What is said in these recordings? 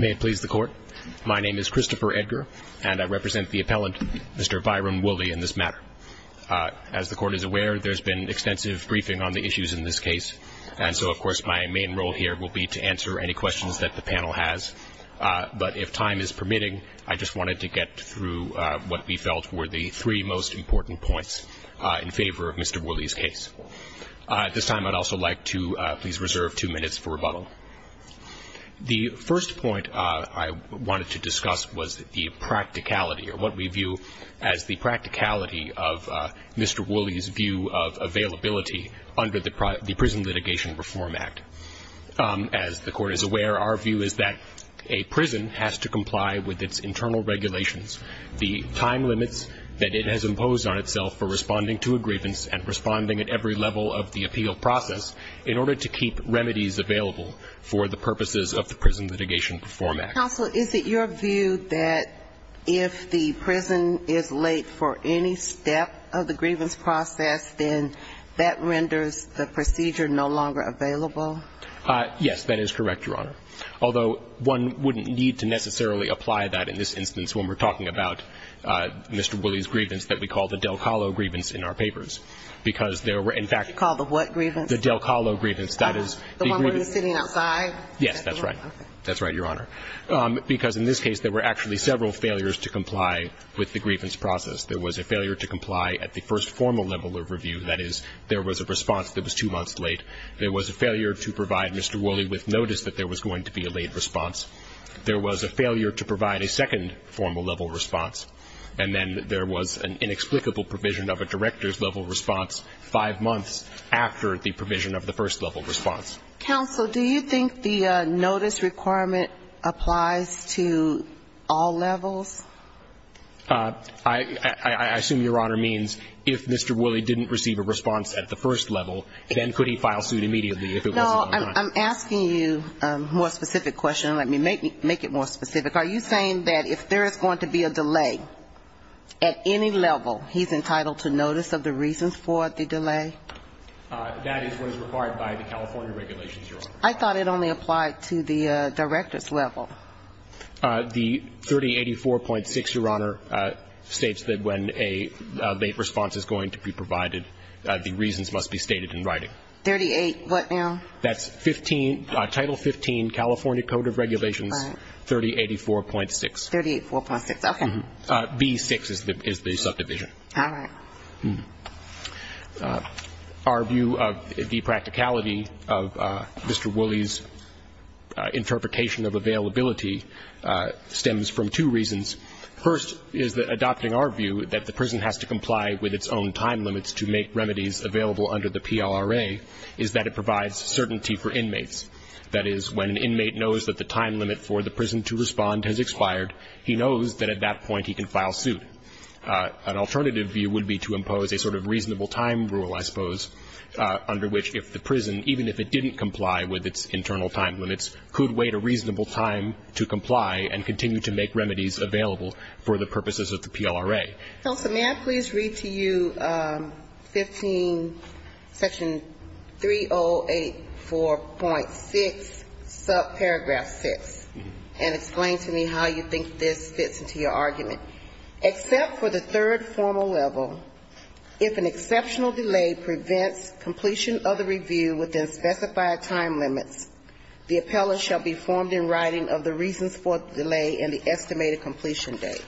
May it please the Court, my name is Christopher Edgar and I represent the appellant Mr. Byron Woolley in this matter. As the Court is aware there's been extensive briefing on the issues in this case and so of course my main role here will be to answer any questions that the panel has but if time is permitting I just wanted to get through what we felt were the three most important points in favor of Mr. Woolley's case. At this time I'd also like to please reserve two minutes for rebuttal. The first point I wanted to discuss was the practicality or what we view as the practicality of Mr. Woolley's view of availability under the Prison Litigation Reform Act. As the Court is aware our view is that a prison has to comply with its internal regulations, the time limits that it has imposed on itself for responding to a grievance and responding at every level of the appeal process in order to keep remedies available for the purposes of the Prison Litigation Reform Act. Counsel, is it your view that if the prison is late for any step of the grievance process then that renders the procedure no longer available? Yes, that is correct, Your Honor, although one wouldn't need to necessarily apply that in this instance when we're talking about Mr. Woolley's grievance that we call the Del Colo grievance in our case. In fact, the Del Colo grievance. The one where he's sitting outside? Yes, that's right, Your Honor. Because in this case there were actually several failures to comply with the grievance process. There was a failure to comply at the first formal level of review, that is there was a response that was two months late. There was a failure to provide Mr. Woolley with notice that there was going to be a late response. There was a failure to provide a second formal level response, and then there was an inexplicable provision of a director's level response five months after the provision of the first level response. Counsel, do you think the notice requirement applies to all levels? I assume, Your Honor, means if Mr. Woolley didn't receive a response at the first level, then could he file suit immediately? No, I'm asking you a more specific question. Let me make it more specific. Are you saying that if there is going to be a delay at any level, he's entitled to notice of the reasons for the delay? That is what is required by the California regulations, Your Honor. I thought it only applied to the director's level. The 3084.6, Your Honor, states that when a late response is going to be provided, the reasons must be stated in writing. Thirty-eight what now? That's 15, Title 15, California Code of Regulations, 3084.6. Thirty-eight four plus six, okay. B-6 is the subdivision. All right. Our view of the practicality of Mr. Woolley's interpretation of availability stems from two reasons. First is that adopting our view that the prison has to comply with its own time limits to make remedies available under the PLRA is that it provides certainty for inmates. That is, when an inmate knows that the time limit for the prison to respond has expired, he knows that at that point he can file suit. An alternative view would be to impose a sort of reasonable time rule, I suppose, under which if the prison, even if it didn't comply with its internal time limits, could wait a reasonable time to comply and continue to make remedies available for the purposes of the PLRA. May I please read to you 15, Section 3084.6, subparagraph 6, and explain to me how you think this fits into your argument. Except for the third formal level, if an exceptional delay prevents completion of the review within specified time limits, the appellant shall be formed in writing of the reasons for the delay and the estimated completion date.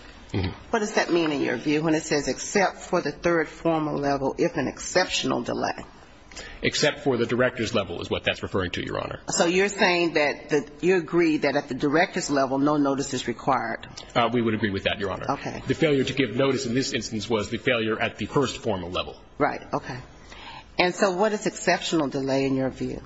What does that mean in your view when it says, except for the third formal level, if an exceptional delay? Except for the director's level is what that's referring to, Your Honor. So you're saying that you agree that at the director's level no notice is required? We would agree with that, Your Honor. Okay. The failure to give notice in this instance was the failure at the first formal level. Right. Okay. And so what is exceptional delay in your view?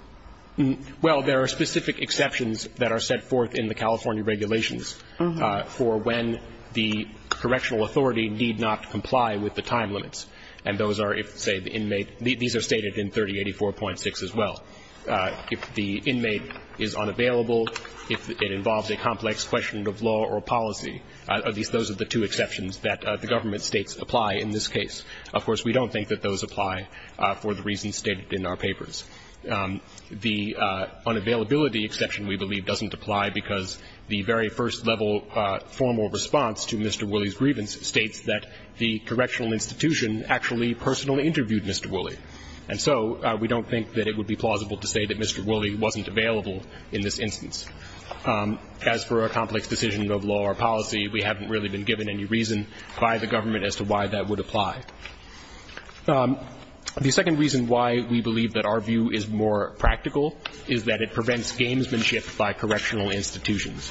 Well, there are specific exceptions that are set forth in the California regulations for when the correctional authority need not comply with the time limits. And those are if, say, the inmate – these are stated in 3084.6 as well. If the inmate is unavailable, if it involves a complex question of law or policy, at least those are the two exceptions that the government states apply in this case. Of course, we don't think that those apply for the reasons stated in our papers. The unavailability exception, we believe, doesn't apply because the very first level formal response to Mr. Woolley's grievance states that the correctional institution actually personally interviewed Mr. Woolley. And so we don't think that it would be plausible to say that Mr. Woolley wasn't available in this instance. As for a complex decision of law or policy, we haven't really been given any reason by the government as to why that would apply. The second reason why we believe that our view is more practical is that it prevents gamesmanship by correctional institutions.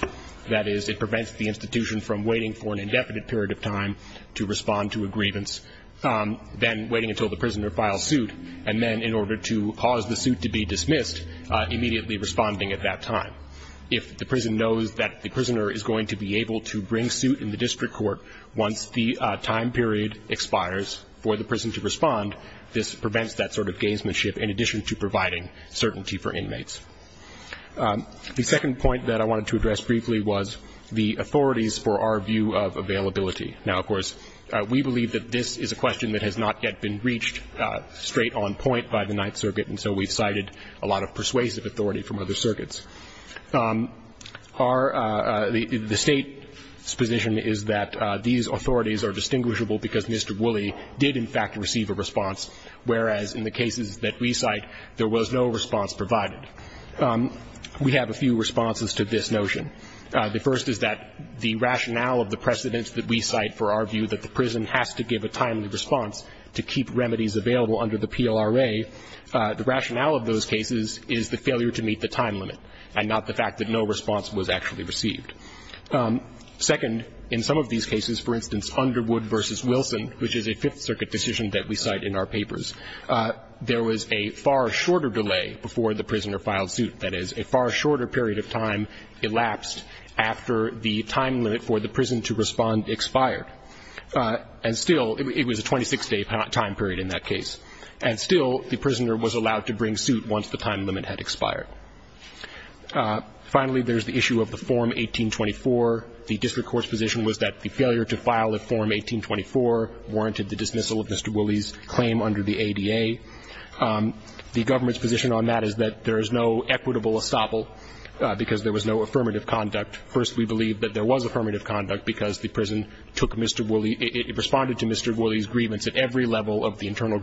That is, it prevents the institution from waiting for an indefinite period of time to respond to a grievance, then waiting until the prisoner files suit, and then, in order to cause the suit to be dismissed, immediately responding at that time. If the prison knows that the prisoner is going to be able to bring suit in the district court once the time period expires for the prison to respond, this prevents that sort of gamesmanship in addition to providing certainty for inmates. The second point that I wanted to address briefly was the authorities for our view of availability. Now, of course, we believe that this is a question that has not yet been reached straight on point by the Ninth Circuit, and so we've cited a lot of persuasive authority from other circuits. The State's position is that these authorities are distinguishable because Mr. Wooley did, in fact, receive a response, whereas in the cases that we cite, there was no response provided. We have a few responses to this notion. The first is that the rationale of the precedents that we cite for our view that the prison has to give a timely response to keep remedies available under the PLRA, the rationale of those cases is the time limit and not the fact that no response was actually received. Second, in some of these cases, for instance, Underwood v. Wilson, which is a Fifth Circuit decision that we cite in our papers, there was a far shorter delay before the prisoner filed suit. That is, a far shorter period of time elapsed after the time limit for the prison to respond expired. And still, it was a 26-day time period in that case. And still, the prisoner was allowed to bring suit once the time limit had expired. Finally, there is the issue of the Form 1824. The district court's position was that the failure to file a Form 1824 warranted the dismissal of Mr. Wooley's claim under the ADA. The government's position on that is that there is no equitable estoppel because there was no affirmative conduct. First, we believe that there was affirmative conduct because the prison took Mr. Wooley. It responded to Mr. Wooley's grievance at every level of the internal court. And that's what we believe the reason for the delay in the approval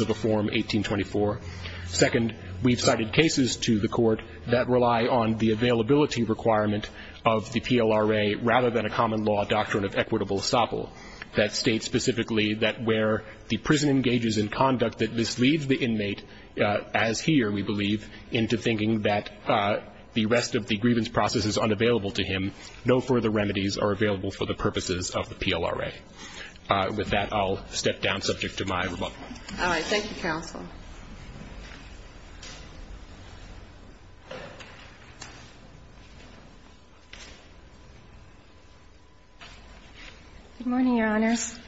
of the Form 1824. Second, we have cited cases to the court that rely on the availability requirement of the PLRA rather than a common law doctrine of equitable estoppel that states specifically that where the prison engages in conduct that misleads the inmate, as here, we believe, into thinking that the rest of the grievance process is unavailable to him. No further remedies are available for the purposes of the PLRA. With that, I'll step down subject to my rebuttal. All right. Thank you, counsel. Good morning, Your Honors.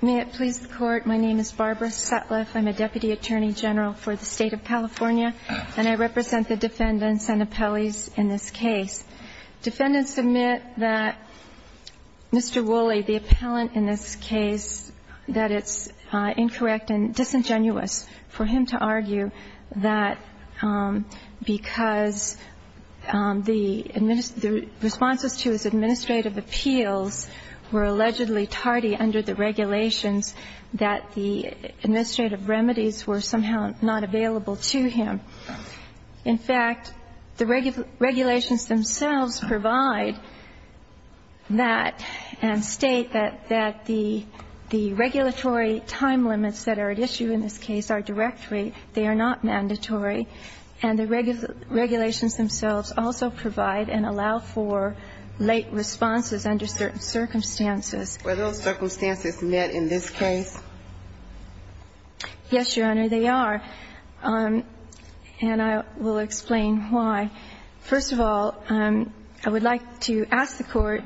May it please the Court, my name is Barbara Sutliff. I'm a Deputy Attorney General for the State of California, and I represent the defendants and appellees in this case. Defendants admit that Mr. Wooley, the appellant in this case, that it's incorrect and disingenuous for him to argue that because the responses to his administrative appeals were allegedly tardy under the regulations, that the administrative remedies were somehow not available to him. In fact, the regulations themselves provide that and state that the regulatory time limits that are at issue in this case are directory. They are not mandatory. And the regulations themselves also provide and allow for late responses under certain circumstances. Were those circumstances met in this case? Yes, Your Honor, they are. And I will explain why. First of all, I would like to ask the Court,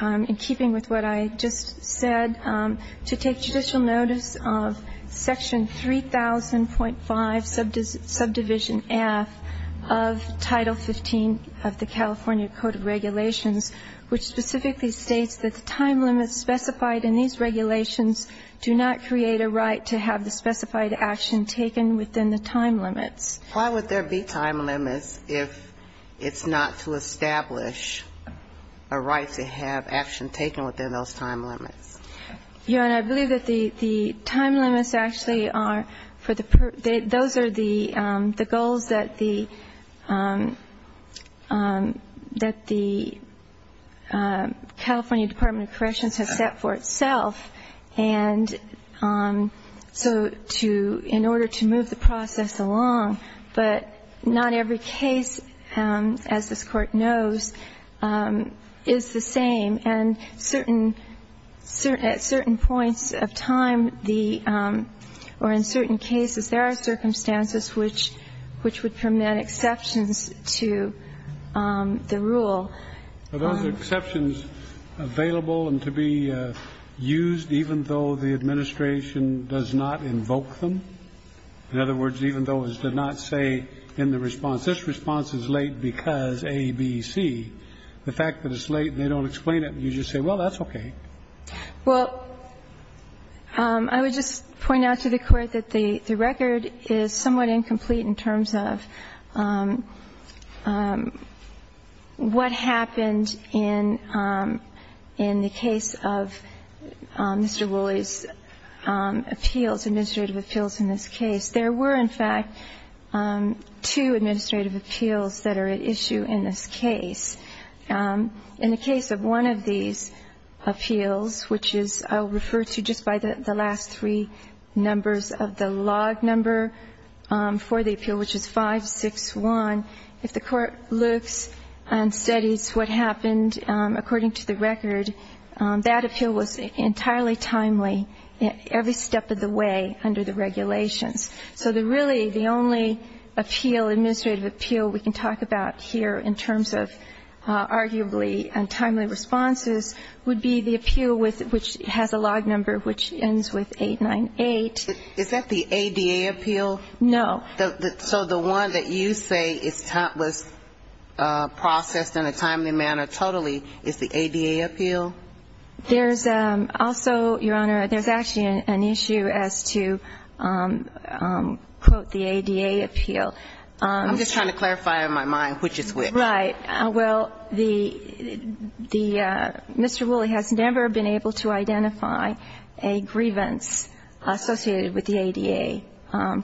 in keeping with what I just said, to take judicial notice of Section 3000.5, subdivision F, of Title 15 of the California Code of Regulations, which specifically states that the time limits specified in these regulations do not create a right to have the specified action taken within the time limits. Why would there be time limits if it's not to establish a right to have action taken within those time limits? Your Honor, I believe that the time limits actually are for the purpose of the goals that the California Department of Corrections has set for itself. And so in order to move the process along, but not every case, as this Court knows, is the same. And at certain points of time, or in certain cases, there are circumstances which would permit exceptions to the rule. Are those exceptions available and to be used even though the administration does not invoke them? In other words, even though it does not say in the response, this response is late because A, B, C, the fact that it's late and they don't explain it, you just say, well, that's okay. Well, I would just point out to the Court that the record is somewhat incomplete in terms of what happened in the case of Mr. Woolley's appeals, administrative appeals in this case. There were, in fact, two administrative appeals that are at issue in this case. In the case of one of these appeals, which I'll refer to just by the last three numbers of the log number for the appeal, which is 561, if the Court looks and studies what happened according to the record, that appeal was entirely timely every step of the way under the regulations. So really the only appeal, administrative appeal we can talk about here in terms of arguably untimely responses would be the appeal which has a log number which ends with 898. Is that the ADA appeal? No. So the one that you say was processed in a timely manner totally is the ADA appeal? There's also, Your Honor, there's actually an issue as to, quote, the ADA appeal. I'm just trying to clarify in my mind which is which. Right. Well, the Mr. Woolley has never been able to identify a grievance associated with the ADA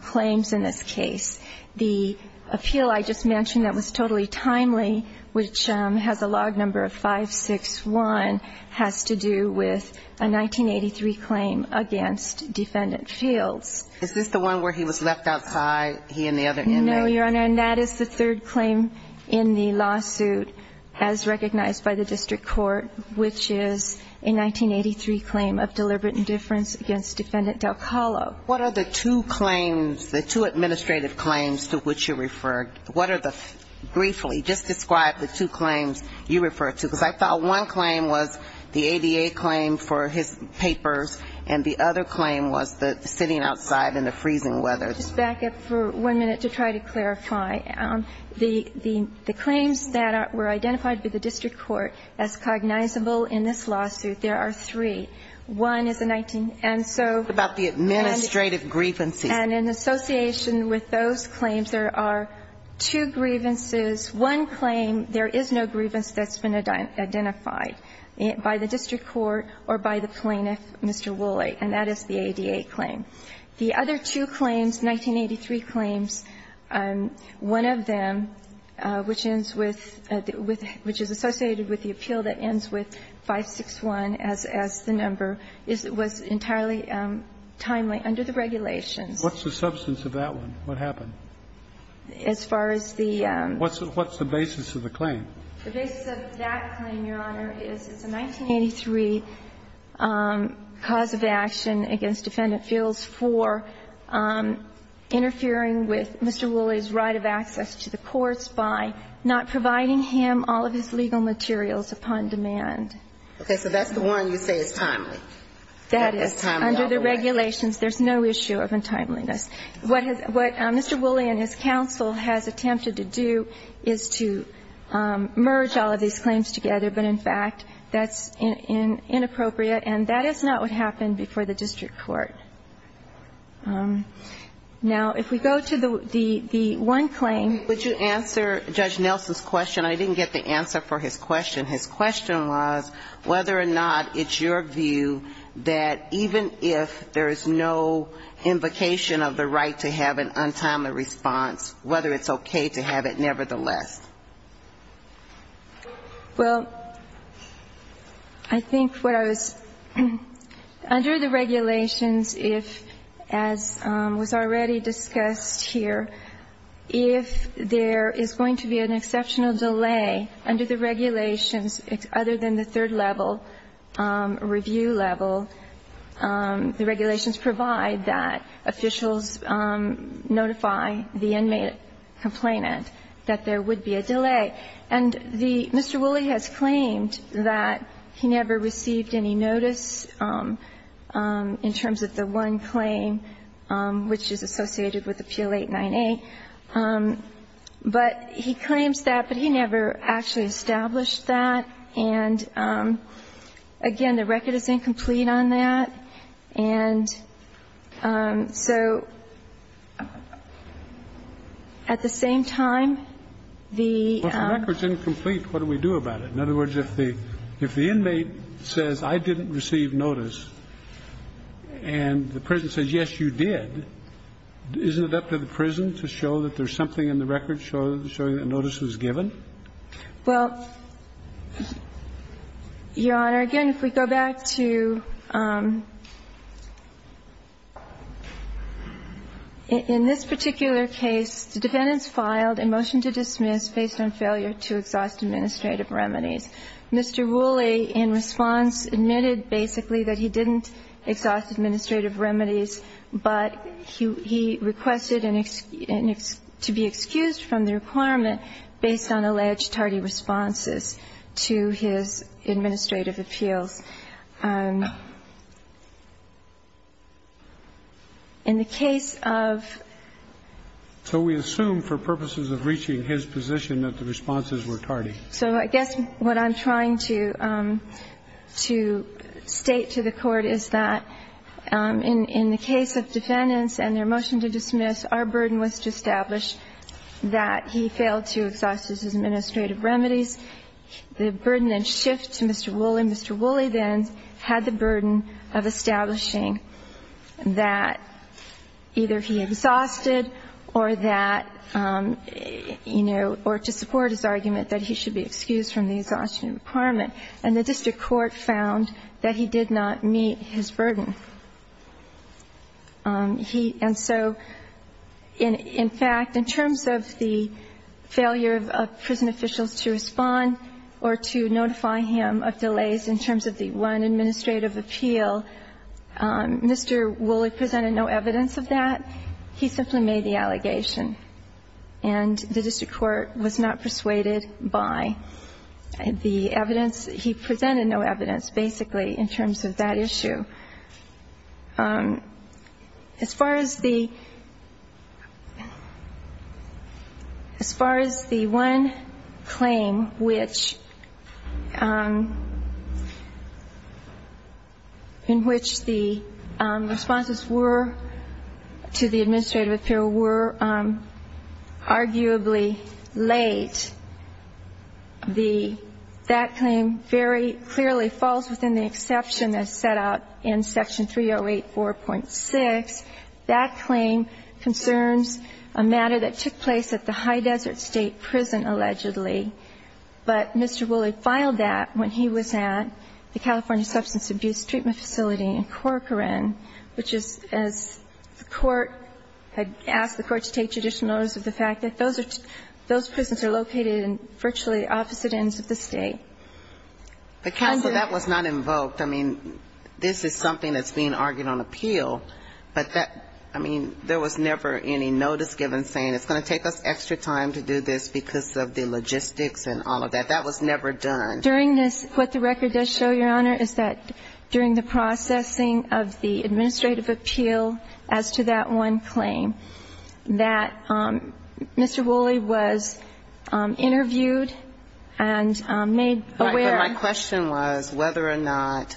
claims in this case. The appeal I just mentioned that was totally timely, which has a log number of 561, has to do with a 1983 claim against Defendant Fields. Is this the one where he was left outside, he and the other inmates? No, Your Honor. And that is the third claim in the lawsuit as recognized by the district court, which is a 1983 claim of deliberate indifference against Defendant DelCarlo. What are the two claims, the two administrative claims to which you referred? What are the briefly, just describe the two claims you refer to? Because I thought one claim was the ADA claim for his papers, and the other claim was the sitting outside in the freezing weather. Let me just back up for one minute to try to clarify. The claims that were identified by the district court as cognizable in this lawsuit, there are three. One is the 19th. What about the administrative grievances? And in association with those claims, there are two grievances. One claim, there is no grievance that's been identified by the district court or by the plaintiff, Mr. Woolley, and that is the ADA claim. The other two claims, 1983 claims, one of them, which ends with the – which is associated with the appeal that ends with 561 as the number, was entirely timely under the regulations. What's the substance of that one? What happened? As far as the – What's the basis of the claim? The basis of that claim, Your Honor, is it's a 1983 cause of action against defendant feels for interfering with Mr. Woolley's right of access to the courts by not providing him all of his legal materials upon demand. Okay. So that's the one you say is timely? That is. Under the regulations, there's no issue of untimeliness. What Mr. Woolley and his counsel has attempted to do is to merge all of these claims together, but in fact, that's inappropriate, and that is not what happened before the district court. Now, if we go to the one claim – Would you answer Judge Nelson's question? I didn't get the answer for his question. His question was whether or not it's your view that even if there is no invocation of the right to have an untimely response, whether it's okay to have it nevertheless. Well, I think what I was – under the regulations, if, as was already discussed here, if there is going to be an exceptional delay under the regulations, other than the third level, review level, the regulations provide that officials notify the inmate complainant that there would be a delay. And the – Mr. Woolley has claimed that he never received any notice in terms of the one claim, which is associated with Appeal 898, but he claims that, but he never actually established that. And, again, the record is incomplete on that. And so at the same time, the – Well, if the record is incomplete, what do we do about it? In other words, if the inmate says, I didn't receive notice, and the prison says, yes, you did, isn't it up to the prison to show that there's something in the record showing that notice was given? Well, Your Honor, again, if we go back to – in this particular case, the defendants filed a motion to dismiss based on failure to exhaust administrative remedies. Mr. Woolley, in response, admitted basically that he didn't exhaust administrative remedies, but he requested an – to be excused from the requirement based on alleged tardy responses to his administrative appeals. In the case of – So we assume for purposes of reaching his position that the responses were tardy. So I guess what I'm trying to state to the Court is that in the case of defendants and their motion to dismiss, our burden was to establish that he failed to exhaust his administrative remedies. The burden then shifts to Mr. Woolley. Mr. Woolley then had the burden of establishing that either he exhausted or that, you know, or to support his argument that he should be excused from the exhaustion requirement, and the district court found that he did not meet his burden. He – and so in fact, in terms of the failure of prison officials to respond or to notify him of delays in terms of the one administrative appeal, Mr. Woolley presented no evidence of that. He simply made the allegation. And the district court was not persuaded by the evidence. He presented no evidence, basically, in terms of that issue. As far as the – as far as the one claim which – in which the responses were to the administrative appeal were arguably late, the – that claim very clearly falls within the exception that's set out in Section 308.4.6. That claim concerns a matter that took place at the High Desert State Prison, allegedly. But Mr. Woolley filed that when he was at the California Substance Abuse Treatment Facility in Corcoran, which is, as the court had asked the court to take judicial notice of the fact that those are – those prisons are located in virtually opposite ends of the State. But, Counsel, that was not invoked. I mean, this is something that's being argued on appeal. But that – I mean, there was never any notice given saying it's going to take us extra time to do this because of the logistics and all of that. That was never done. During this, what the record does show, Your Honor, is that during the processing of the administrative appeal as to that one claim, that Mr. Woolley was interviewed and made aware – But my question was whether or not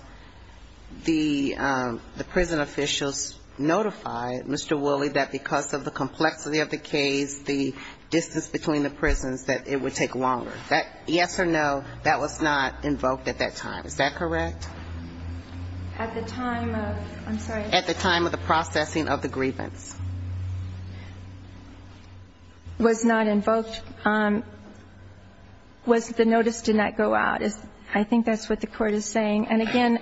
the prison officials notified Mr. Woolley that because of the complexity of the case, the distance between the prisons, that it would take longer. Yes or no, that was not invoked at that time. Is that correct? At the time of – I'm sorry. At the time of the processing of the grievance. Was not invoked. Was – the notice did not go out. I think that's what the Court is saying. And, again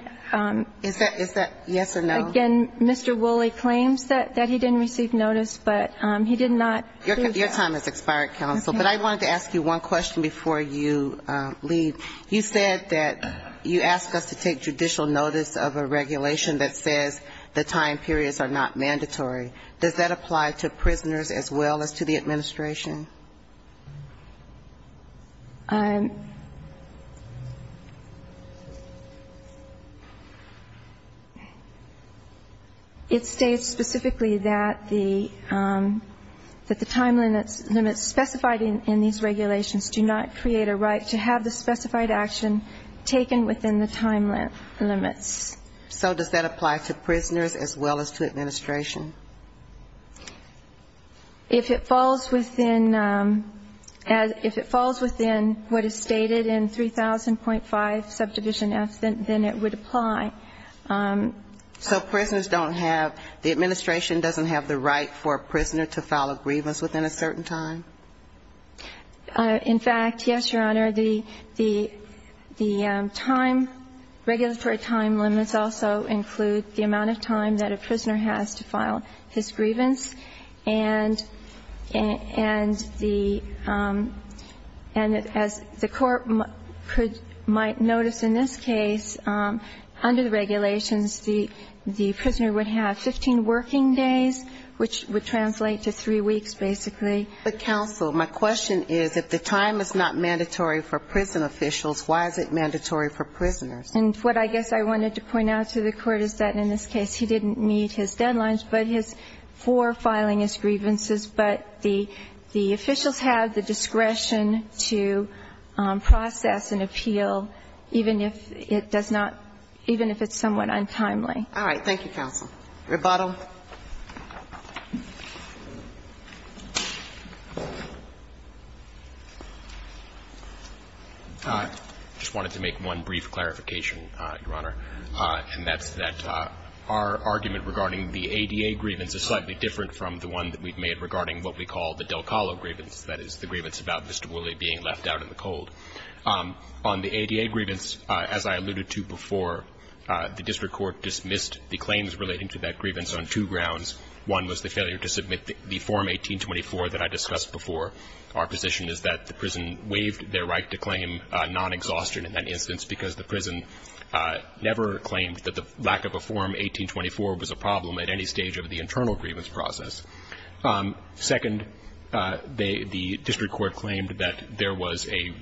– Is that – is that yes or no? Again, Mr. Woolley claims that he didn't receive notice, but he did not. Your time has expired, Counsel. Okay. But I wanted to ask you one question before you leave. You said that you asked us to take judicial notice of a regulation that says the time periods are not mandatory. Does that apply to prisoners as well as to the administration? It states specifically that the time limits specified in these regulations do not create a right to have the specified action taken within the time limits. So does that apply to prisoners as well as to administration? If it falls within – if it falls within what is stated in 3000.5 Subdivision F, then it would apply. So prisoners don't have – the administration doesn't have the right for a prisoner to file a grievance within a certain time? In fact, yes, Your Honor. The time – regulatory time limits also include the amount of time that a prisoner has to file his grievance. And the – and as the Court might notice in this case, under the regulations, the prisoner would have 15 working days, which would translate to three weeks, basically. But, Counsel, my question is, if the time is not mandatory for prison officials, why is it mandatory for prisoners? And what I guess I wanted to point out to the Court is that in this case he didn't meet his deadlines, but his – for filing his grievances, but the officials have the discretion to process an appeal even if it does not – even if it's somewhat untimely. All right. Thank you, Counsel. Rebuttal. I just wanted to make one brief clarification. Your Honor. And that's that our argument regarding the ADA grievance is slightly different from the one that we've made regarding what we call the Del Callo grievance, that is, the grievance about Mr. Woolley being left out in the cold. On the ADA grievance, as I alluded to before, the district court dismissed the claims relating to that grievance on two grounds. One was the failure to submit the Form 1824 that I discussed before. Our position is that the prison waived their right to claim non-exhaustion in that instance because the prison never claimed that the lack of a Form 1824 was a problem at any stage of the internal grievance process. Second, they – the district court claimed that there was a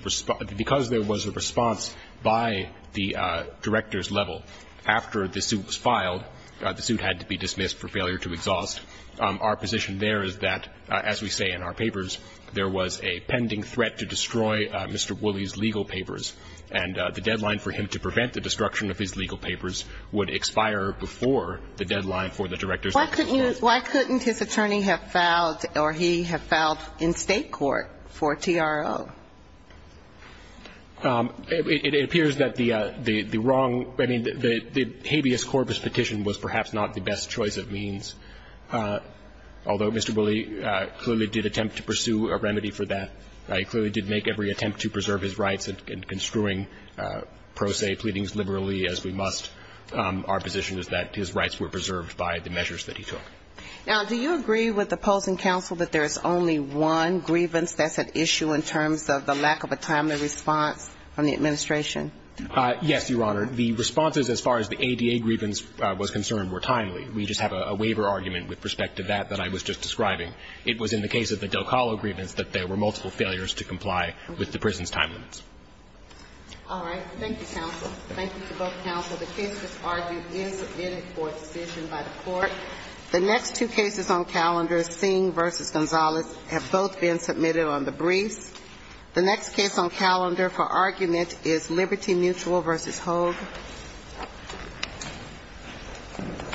– because there was a response by the director's level after the suit was filed, the suit had to be dismissed for failure to exhaust. Our position there is that, as we say in our papers, there was a pending threat to destroy Mr. Woolley's legal papers, and the deadline for him to prevent the destruction of his legal papers would expire before the deadline for the director's explanation. Why couldn't you – why couldn't his attorney have filed or he have filed in State court for TRO? It appears that the wrong – I mean, the habeas corpus petition was perhaps not the best choice of means, although Mr. Woolley clearly did attempt to pursue a remedy for that. He clearly did make every attempt to preserve his rights in construing pro se pleadings liberally as we must. Our position is that his rights were preserved by the measures that he took. Now, do you agree with the opposing counsel that there is only one grievance that's at issue in terms of the lack of a timely response from the administration? Yes, Your Honor. The responses as far as the ADA grievance was concerned were timely. We just have a waiver argument with respect to that that I was just describing. It was in the case of the Delcalo grievance that there were multiple failures to comply with the prison's time limits. All right. Thank you, counsel. Thank you to both counsel. The case that's argued is submitted for a decision by the court. The next two cases on calendar, Singh v. Gonzalez, have both been submitted on the briefs. The next case on calendar for argument is Liberty Mutual v. Hogue. Thank you, Your Honor.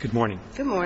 Good morning. Good morning.